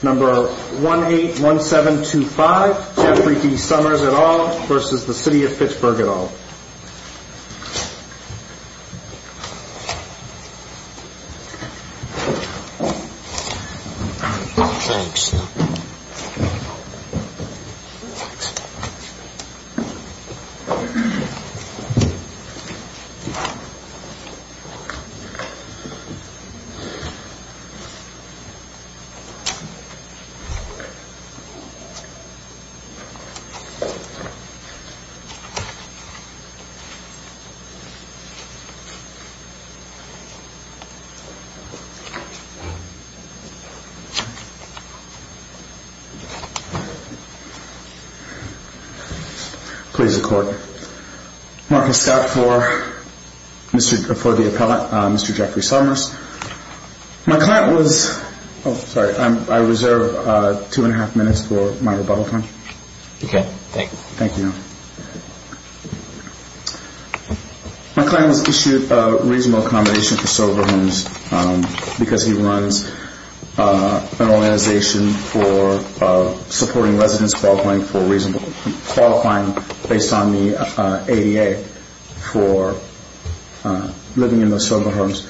Number 181725 Jeffrey D. Summers et al. versus the city of Pittsburgh et al. Please record. Marcus Scott for the appellate, Mr. Jeffrey Summers. My client was, oh sorry, I reserve two and a half minutes for my rebuttal time. Thank you. My client was issued a reasonable accommodation for sober homes because he runs an organization for supporting residents qualifying based on the ADA for living in those sober homes.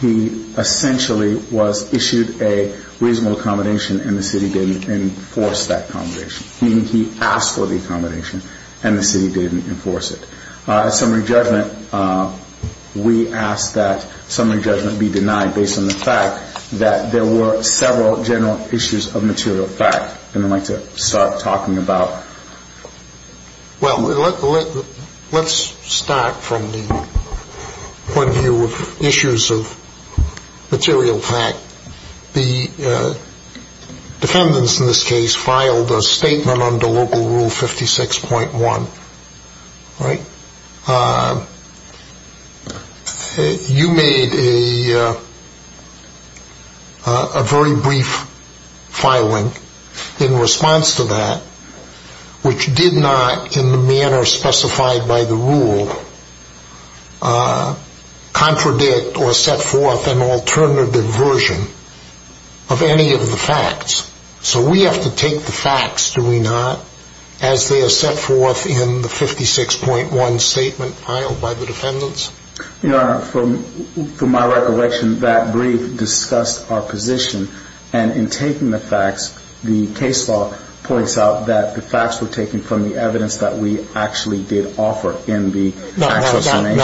He essentially was issued a reasonable accommodation and the city didn't enforce that accommodation. Meaning he asked for the accommodation and the city didn't enforce it. Summary judgment, we ask that summary judgment be denied based on the fact that there were several general issues of material fact and I'd like to start talking about. Well, let's start from the point of material fact. The defendants in this case filed a statement under Local Rule 56.1. You made a very brief filing in response to that which did not, in the manner specified by the rule, contradict or set forth an alternative version of any of the facts. So we have to take the facts, do we not, as they are set forth in the 56.1 statement filed by the defendants? Your Honor, from my recollection, that brief discussed our position and in taking the facts, the case law points out that the facts were taken from the evidence that we actually did offer in the accusation.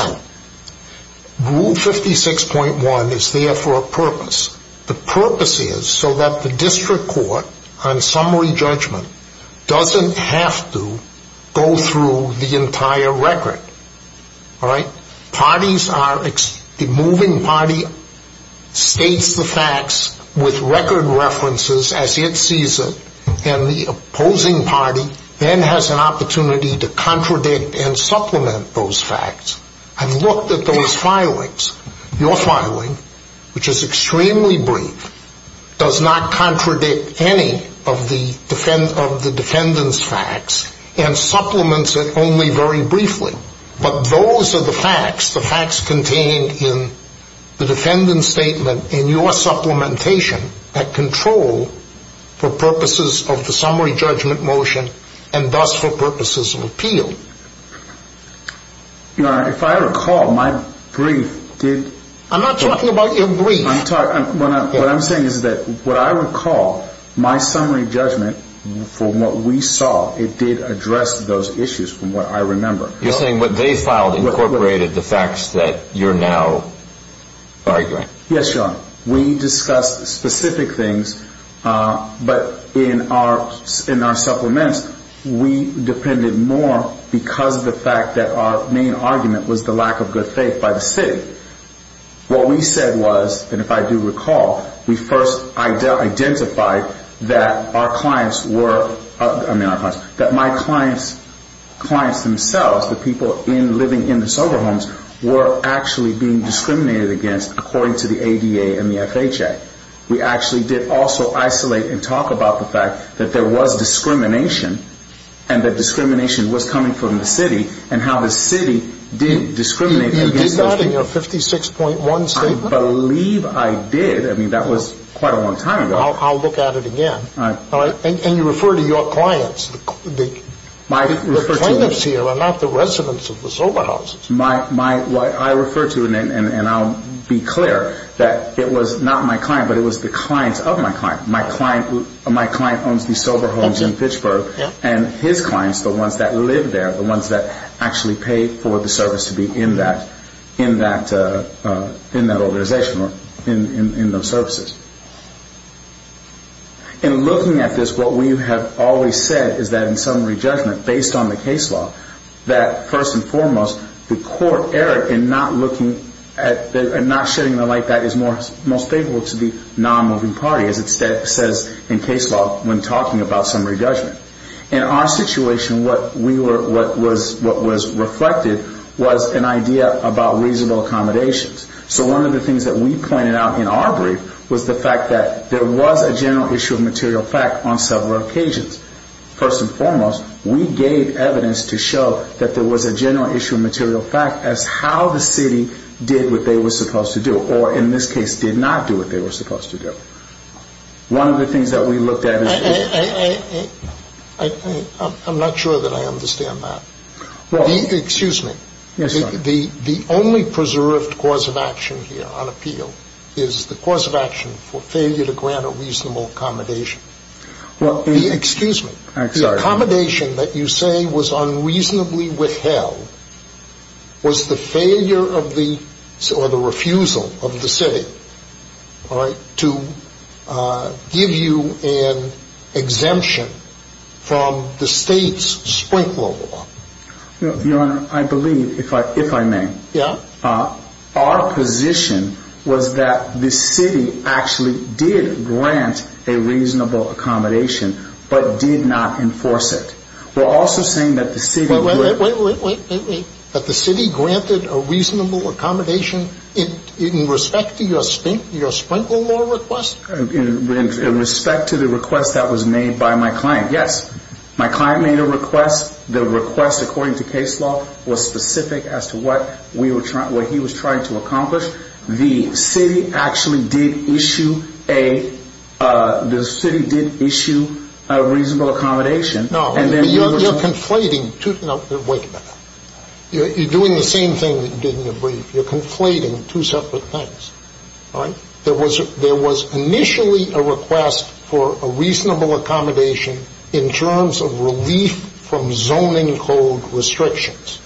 Rule 56.1 is there for a purpose. The purpose is so that the district court on summary judgment doesn't have to go through the entire record. All right? Parties are, the moving party states the facts with record references as it sees it and the opposing party then has an opportunity to contradict and supplement those facts. I've looked at those filings. Your filing, which is extremely brief, does not contradict any of the defendant's facts and supplements it only very briefly. But those are the facts, the facts contained in the defendant's statement in your supplementation at control for purposes of the summary judgment motion and thus for purposes of appeal. Your Honor, if I recall, my brief did... I'm not talking about your brief. What I'm saying is that what I recall, my summary judgment from what we saw, it did address those issues from what I remember. You're saying what they filed incorporated the facts that you're now arguing. Yes, Your Honor. We discussed specific things, but in our supplements, we depended more because of the fact that our main argument was the lack of good faith by the city. What we said was, and if I do recall, we first identified that our clients were, I mean our clients, that my clients, clients themselves, the people living in the sober homes, were actually being discriminated against according to the ADA and the FHA. We actually did also isolate and talk about the fact that there was discrimination and that discrimination was coming from the city and how the city did discriminate against those people. You did that in your 56.1 statement? I believe I did. I mean, that was quite a long time ago. I'll look at it again. All right. And you refer to your clients. The plaintiffs here are not the residents of the sober houses. I refer to, and I'll be clear, that it was not my client, but it was the clients of my client. My client owns these sober homes in Fitchburg, and his clients, the ones that live there, the ones that actually pay for the service to be in that organization or in those services. In looking at this, what we have always said is that in summary judgment, based on the case law, that first and foremost, the court erred in not looking at, and not shedding the light that is most favorable to the non-moving party, as it says in case law when talking about summary judgment. In our situation, what we were, what was reflected was an idea about reasonable accommodations. So one of the things that we pointed out in our brief was the fact that there was a general issue of material fact on several occasions. First and foremost, we gave evidence to show that there was a general issue of material fact as how the city did what they were supposed to do or, in this case, did not do what they were supposed to do. One of the things that we looked at is the – I'm not sure that I understand that. Well – Excuse me. Yes, sir. The only preserved cause of action here on appeal is the cause of action for failure to grant a reasonable accommodation. Well – Excuse me. I'm sorry. The accommodation that you say was unreasonably withheld was the failure of the – or the refusal of the city to give you an exemption from the state's sprinkler law. Your Honor, I believe, if I may – Yeah. Our position was that the city actually did grant a reasonable accommodation but did not enforce it. We're also saying that the city – Wait, wait, wait. That the city granted a reasonable accommodation in respect to your sprinkler law request? In respect to the request that was made by my client, yes. My client made a request. The request, according to case law, was specific as to what we were – what he was trying to accomplish. The city actually did issue a – the city did issue a reasonable accommodation. No, but you're conflating two – no, wait a minute. You're doing the same thing that you did in your brief. All right? There was initially a request for a reasonable accommodation in terms of relief from zoning code restrictions.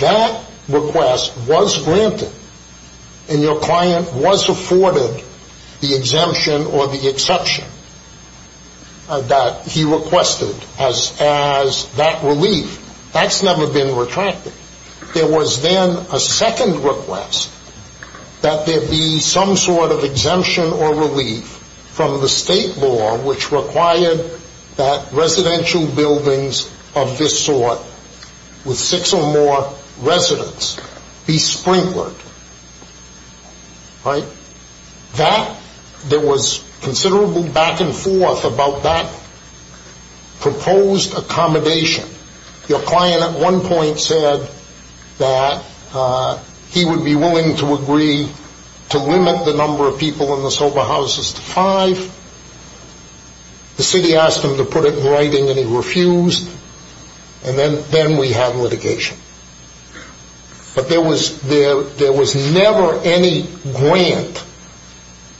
That request was granted and your client was afforded the exemption or the exception that he requested as that relief. That's never been retracted. There was then a second request that there be some sort of exemption or relief from the state law which required that residential buildings of this sort with six or more residents be sprinklered. Right? That – there was considerable back and forth about that proposed accommodation. Your client at one point said that he would be willing to agree to limit the number of people in the sober houses to five. The city asked him to put it in writing and he refused. And then we had litigation. But there was – there was never any grant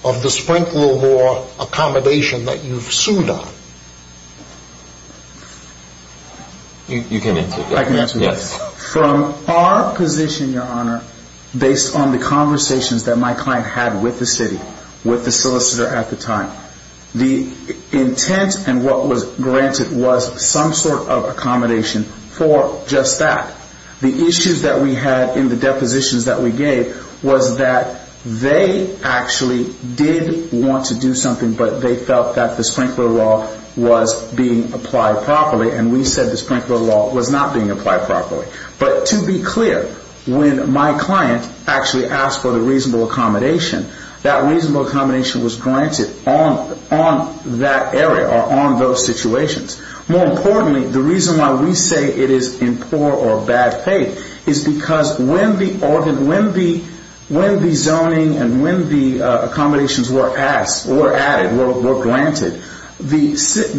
of the sprinkler law accommodation that you've sued on. You can answer that. I can answer that. Yes. From our position, Your Honor, based on the conversations that my client had with the city, with the solicitor at the time, the intent and what was granted was some sort of accommodation for just that. The issues that we had in the depositions that we gave was that they actually did want to do something, but they felt that the sprinkler law was being applied properly. And we said the sprinkler law was not being applied properly. But to be clear, when my client actually asked for the reasonable accommodation, that reasonable accommodation was granted on that area or on those situations. More importantly, the reason why we say it is in poor or bad faith is because when the – the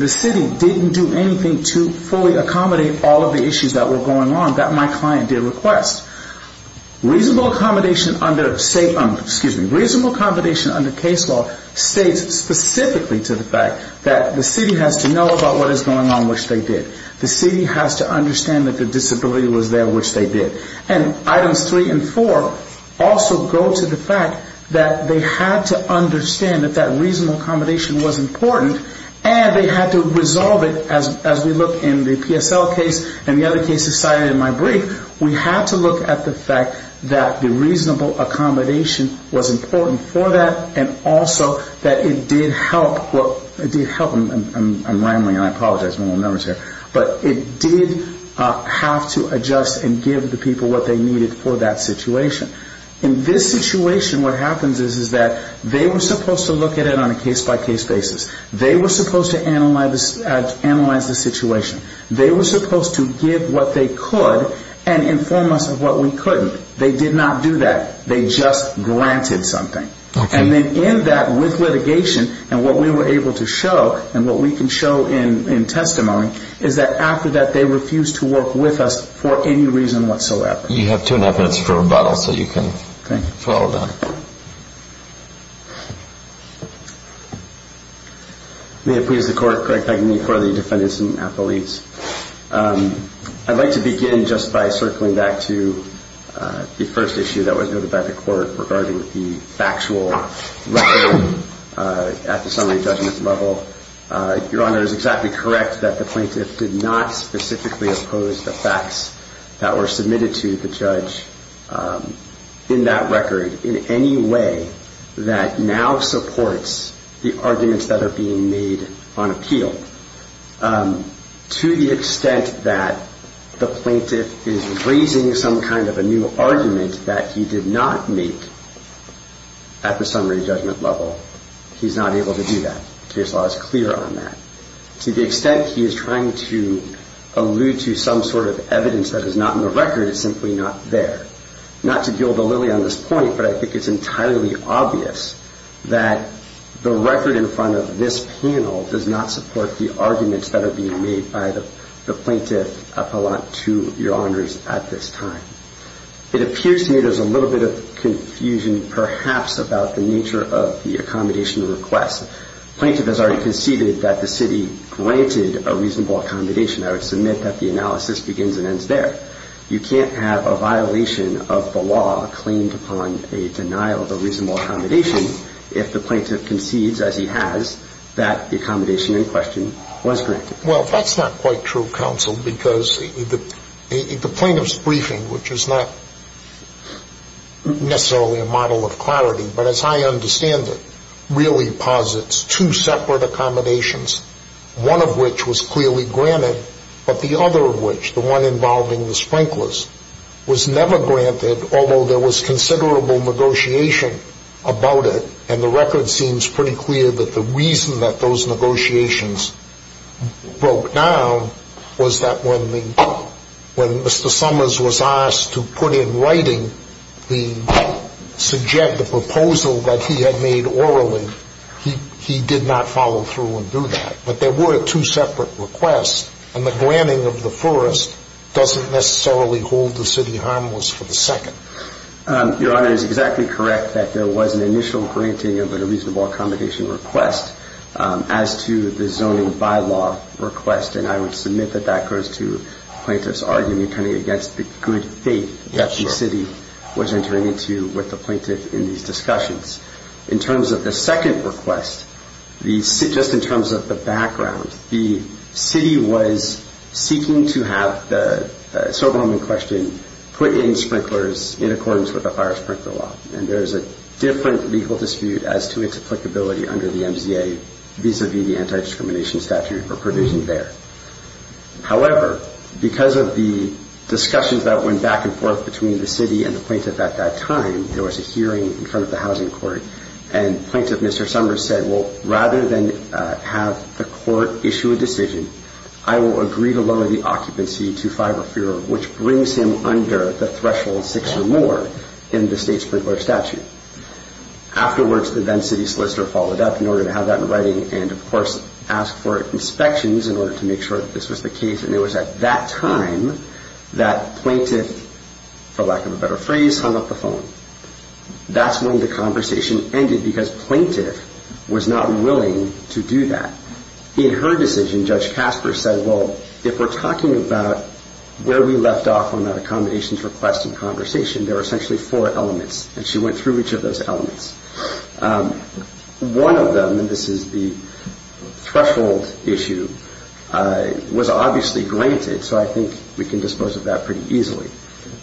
city didn't do anything to fully accommodate all of the issues that were going on that my client did request. Reasonable accommodation under safe – excuse me. Reasonable accommodation under case law states specifically to the fact that the city has to know about what is going on, which they did. The city has to understand that the disability was there, which they did. And items three and four also go to the fact that they had to understand that that reasonable accommodation was important and they had to resolve it as we look in the PSL case and the other cases cited in my brief. We had to look at the fact that the reasonable accommodation was important for that and also that it did help – for that situation. In this situation what happens is that they were supposed to look at it on a case-by-case basis. They were supposed to analyze the situation. They were supposed to give what they could and inform us of what we couldn't. They did not do that. They just granted something. And then in that with litigation and what we were able to show and what we can show in testimony is that after that they refused to work with us for any reason whatsoever. You have two and a half minutes for rebuttal so you can follow that. Thank you. May it please the Court, Craig Pegney for the defendants and affiliates. I'd like to begin just by circling back to the first issue that was noted by the Court regarding the factual record at the summary judgment level. Your Honor is exactly correct that the plaintiff did not specifically oppose the facts that were submitted to the judge in that record in any way that now supports the arguments that are being made on appeal. To the extent that the plaintiff is raising some kind of a new argument that he did not make at the summary judgment level, he's not able to do that. The case law is clear on that. To the extent he is trying to allude to some sort of evidence that is not in the record, it's simply not there. Not to gild the lily on this point, but I think it's entirely obvious that the record in front of this panel does not support the arguments that are being made by the plaintiff appellant to Your Honors at this time. It appears to me there's a little bit of confusion perhaps about the nature of the accommodation request. The plaintiff has already conceded that the city granted a reasonable accommodation. I would submit that the analysis begins and ends there. You can't have a violation of the law claimed upon a denial of a reasonable accommodation if the plaintiff concedes, as he has, that the accommodation in question was granted. Well, that's not quite true, counsel, because the plaintiff's briefing, which is not necessarily a model of clarity, but as I understand it, really posits two separate accommodations, one of which was clearly granted, but the other of which, the one involving the sprinklers, was never granted, although there was considerable negotiation about it. And the record seems pretty clear that the reason that those negotiations broke down was that when Mr. Summers was asked to put in writing the proposal that he had made orally, he did not follow through and do that. But there were two separate requests, and the granting of the first doesn't necessarily hold the city harmless for the second. Your Honor, it is exactly correct that there was an initial granting of a reasonable accommodation request as to the zoning by-law request, and I would submit that that goes to the plaintiff's argument turning against the good faith that the city was entering into with the plaintiff in these discussions. In terms of the second request, just in terms of the background, the city was seeking to have the sober home in question put in sprinklers in accordance with the fire sprinkler law, and there is a different legal dispute as to its applicability under the MZA vis-à-vis the anti-discrimination statute or provision there. However, because of the discussions that went back and forth between the city and the plaintiff at that time, there was a hearing in front of the housing court, and plaintiff Mr. Summers said, well, rather than have the court issue a decision, I will agree to lower the occupancy to five or fewer, which brings him under the threshold six or more in the state sprinkler statute. Afterwards, the then city solicitor followed up in order to have that in writing and, of course, asked for inspections in order to make sure that this was the case, and it was at that time that plaintiff, for lack of a better phrase, hung up the phone. That's when the conversation ended because plaintiff was not willing to do that. In her decision, Judge Casper said, well, if we're talking about where we left off on that accommodations request and conversation, there are essentially four elements, and she went through each of those elements. One of them, and this is the threshold issue, was obviously granted, so I think we can dispose of that pretty easily.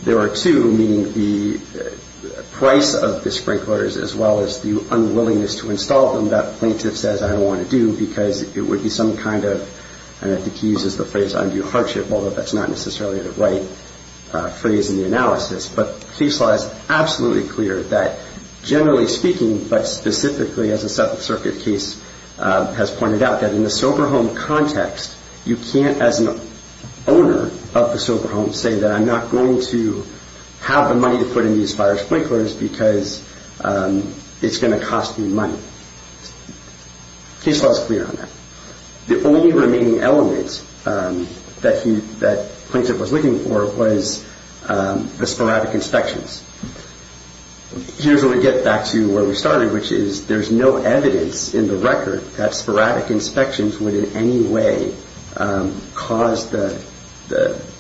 There are two, meaning the price of the sprinklers as well as the unwillingness to install them. That plaintiff says, I don't want to do because it would be some kind of, and I think he uses the phrase, undue hardship, although that's not necessarily the right phrase in the analysis. But the case law is absolutely clear that, generally speaking, but specifically, as the Seventh Circuit case has pointed out, that in the sober home context, you can't, as an owner of a sober home, say that I'm not going to have the money to put in these virus sprinklers because it's going to cost me money. Case law is clear on that. The only remaining element that plaintiff was looking for was the sporadic inspections. Here's where we get back to where we started, which is there's no evidence in the record that sporadic inspections would in any way cause the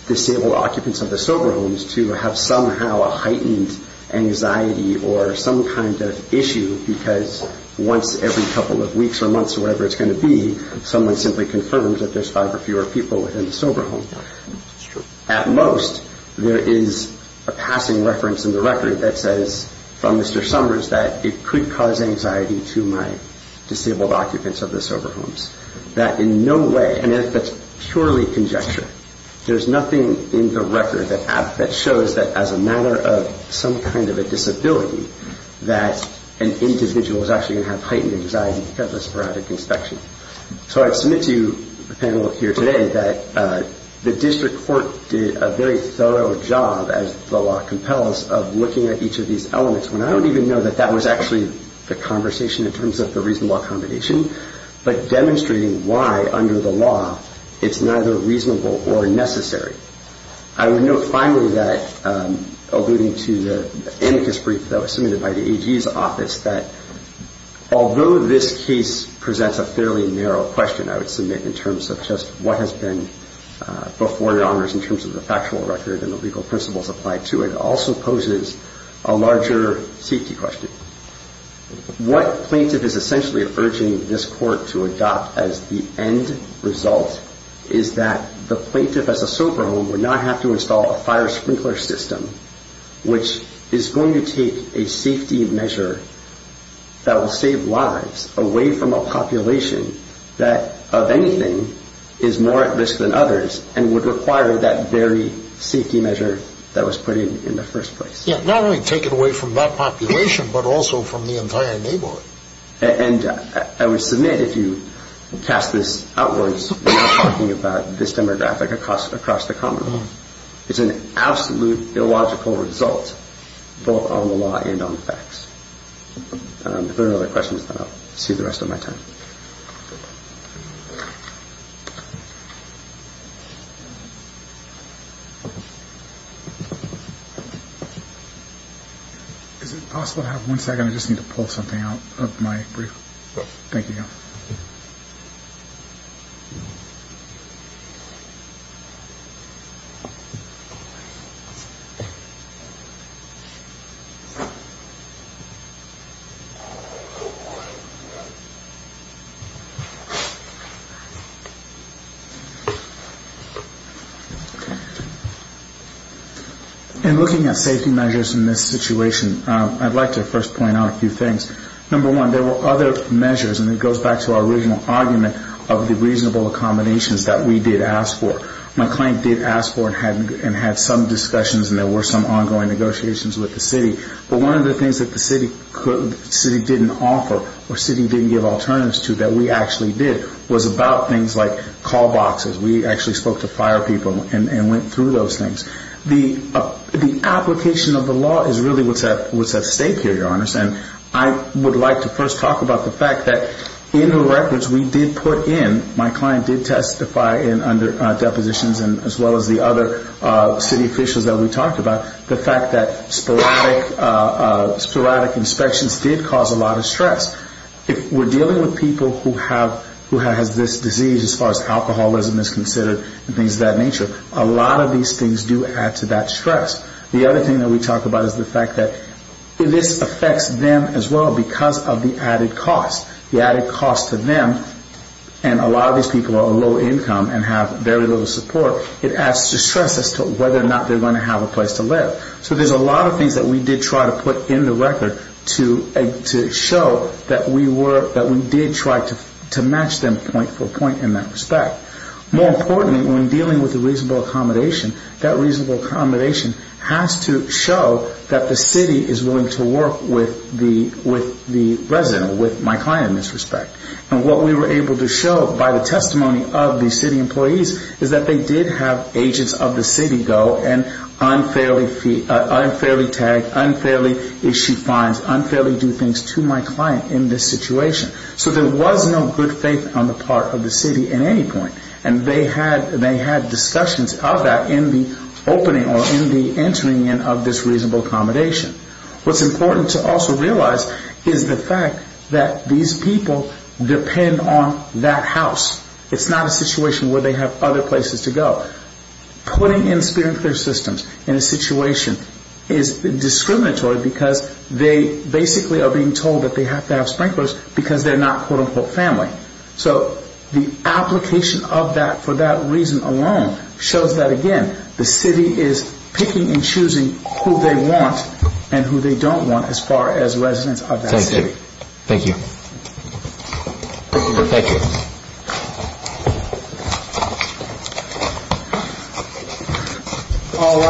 disabled occupants of the sober homes to have somehow a heightened anxiety or some kind of issue because once every couple of weeks or months or whatever it's going to be, someone simply confirms that there's five or fewer people within the sober home. At most, there is a passing reference in the record that says from Mr. Summers that it could cause anxiety to my disabled occupants of the sober homes, that in no way, and that's purely conjecture. There's nothing in the record that shows that as a matter of some kind of a disability that an individual is actually going to have heightened anxiety because of a sporadic inspection. So I submit to you, the panel here today, that the district court did a very thorough job, as the law compels, of looking at each of these elements when I don't even know that that was actually the conversation in terms of the reasonable accommodation, but demonstrating why under the law it's neither reasonable or necessary. I would note finally that, alluding to the amicus brief that was submitted by the AG's office, that although this case presents a fairly narrow question, I would submit, in terms of just what has been before your honors in terms of the factual record and the legal principles applied to it, also poses a larger safety question. What plaintiff is essentially urging this court to adopt as the end result is that the plaintiff as a sober home would not have to install a fire sprinkler system, which is going to take a safety measure that will save lives away from a population that, of anything, is more at risk than others and would require that very safety measure that was put in in the first place. Yeah, not only take it away from that population, but also from the entire neighborhood. And I would submit, if you cast this outwards, we are talking about this demographic across the commonwealth. It's an absolute illogical result, both on the law and on the facts. If there are no other questions, then I'll see you the rest of my time. Is it possible to have one second? I just need to pull something out of my brief. Thank you. In looking at safety measures in this situation, I'd like to first point out a few things. Number one, there were other measures, and it goes back to our original argument of the reasonable accommodations that we did ask for. My client did ask for and had some discussions and there were some ongoing negotiations with the city. But one of the things that the city didn't offer or the city didn't give alternatives to that we actually did was about things like call boxes. We actually spoke to fire people and went through those things. The application of the law is really what's at stake here, Your Honor, and I would like to first talk about the fact that in the records we did put in, my client did testify under depositions as well as the other city officials that we talked about, the fact that sporadic inspections did cause a lot of stress. If we're dealing with people who have this disease as far as alcoholism is considered and things of that nature, a lot of these things do add to that stress. The other thing that we talk about is the fact that this affects them as well because of the added cost. The added cost to them, and a lot of these people are low income and have very little support, it adds to stress as to whether or not they're going to have a place to live. So there's a lot of things that we did try to put in the record to show that we did try to match them point for point in that respect. More importantly, when dealing with a reasonable accommodation, that reasonable accommodation has to show that the city is willing to work with the resident, with my client in this respect. And what we were able to show by the testimony of the city employees is that they did have agents of the city go and unfairly tag, unfairly issue fines, unfairly do things to my client in this situation. So there was no good faith on the part of the city in any point. And they had discussions of that in the opening or in the entering in of this reasonable accommodation. What's important to also realize is the fact that these people depend on that house. It's not a situation where they have other places to go. Putting in Spear and Clear systems in a situation is discriminatory because they basically are being told that they have to have sprinklers because they're not, quote, unquote, family. So the application of that for that reason alone shows that, again, the city is picking and choosing who they want, who they want to live with. And who they don't want as far as residents of that city.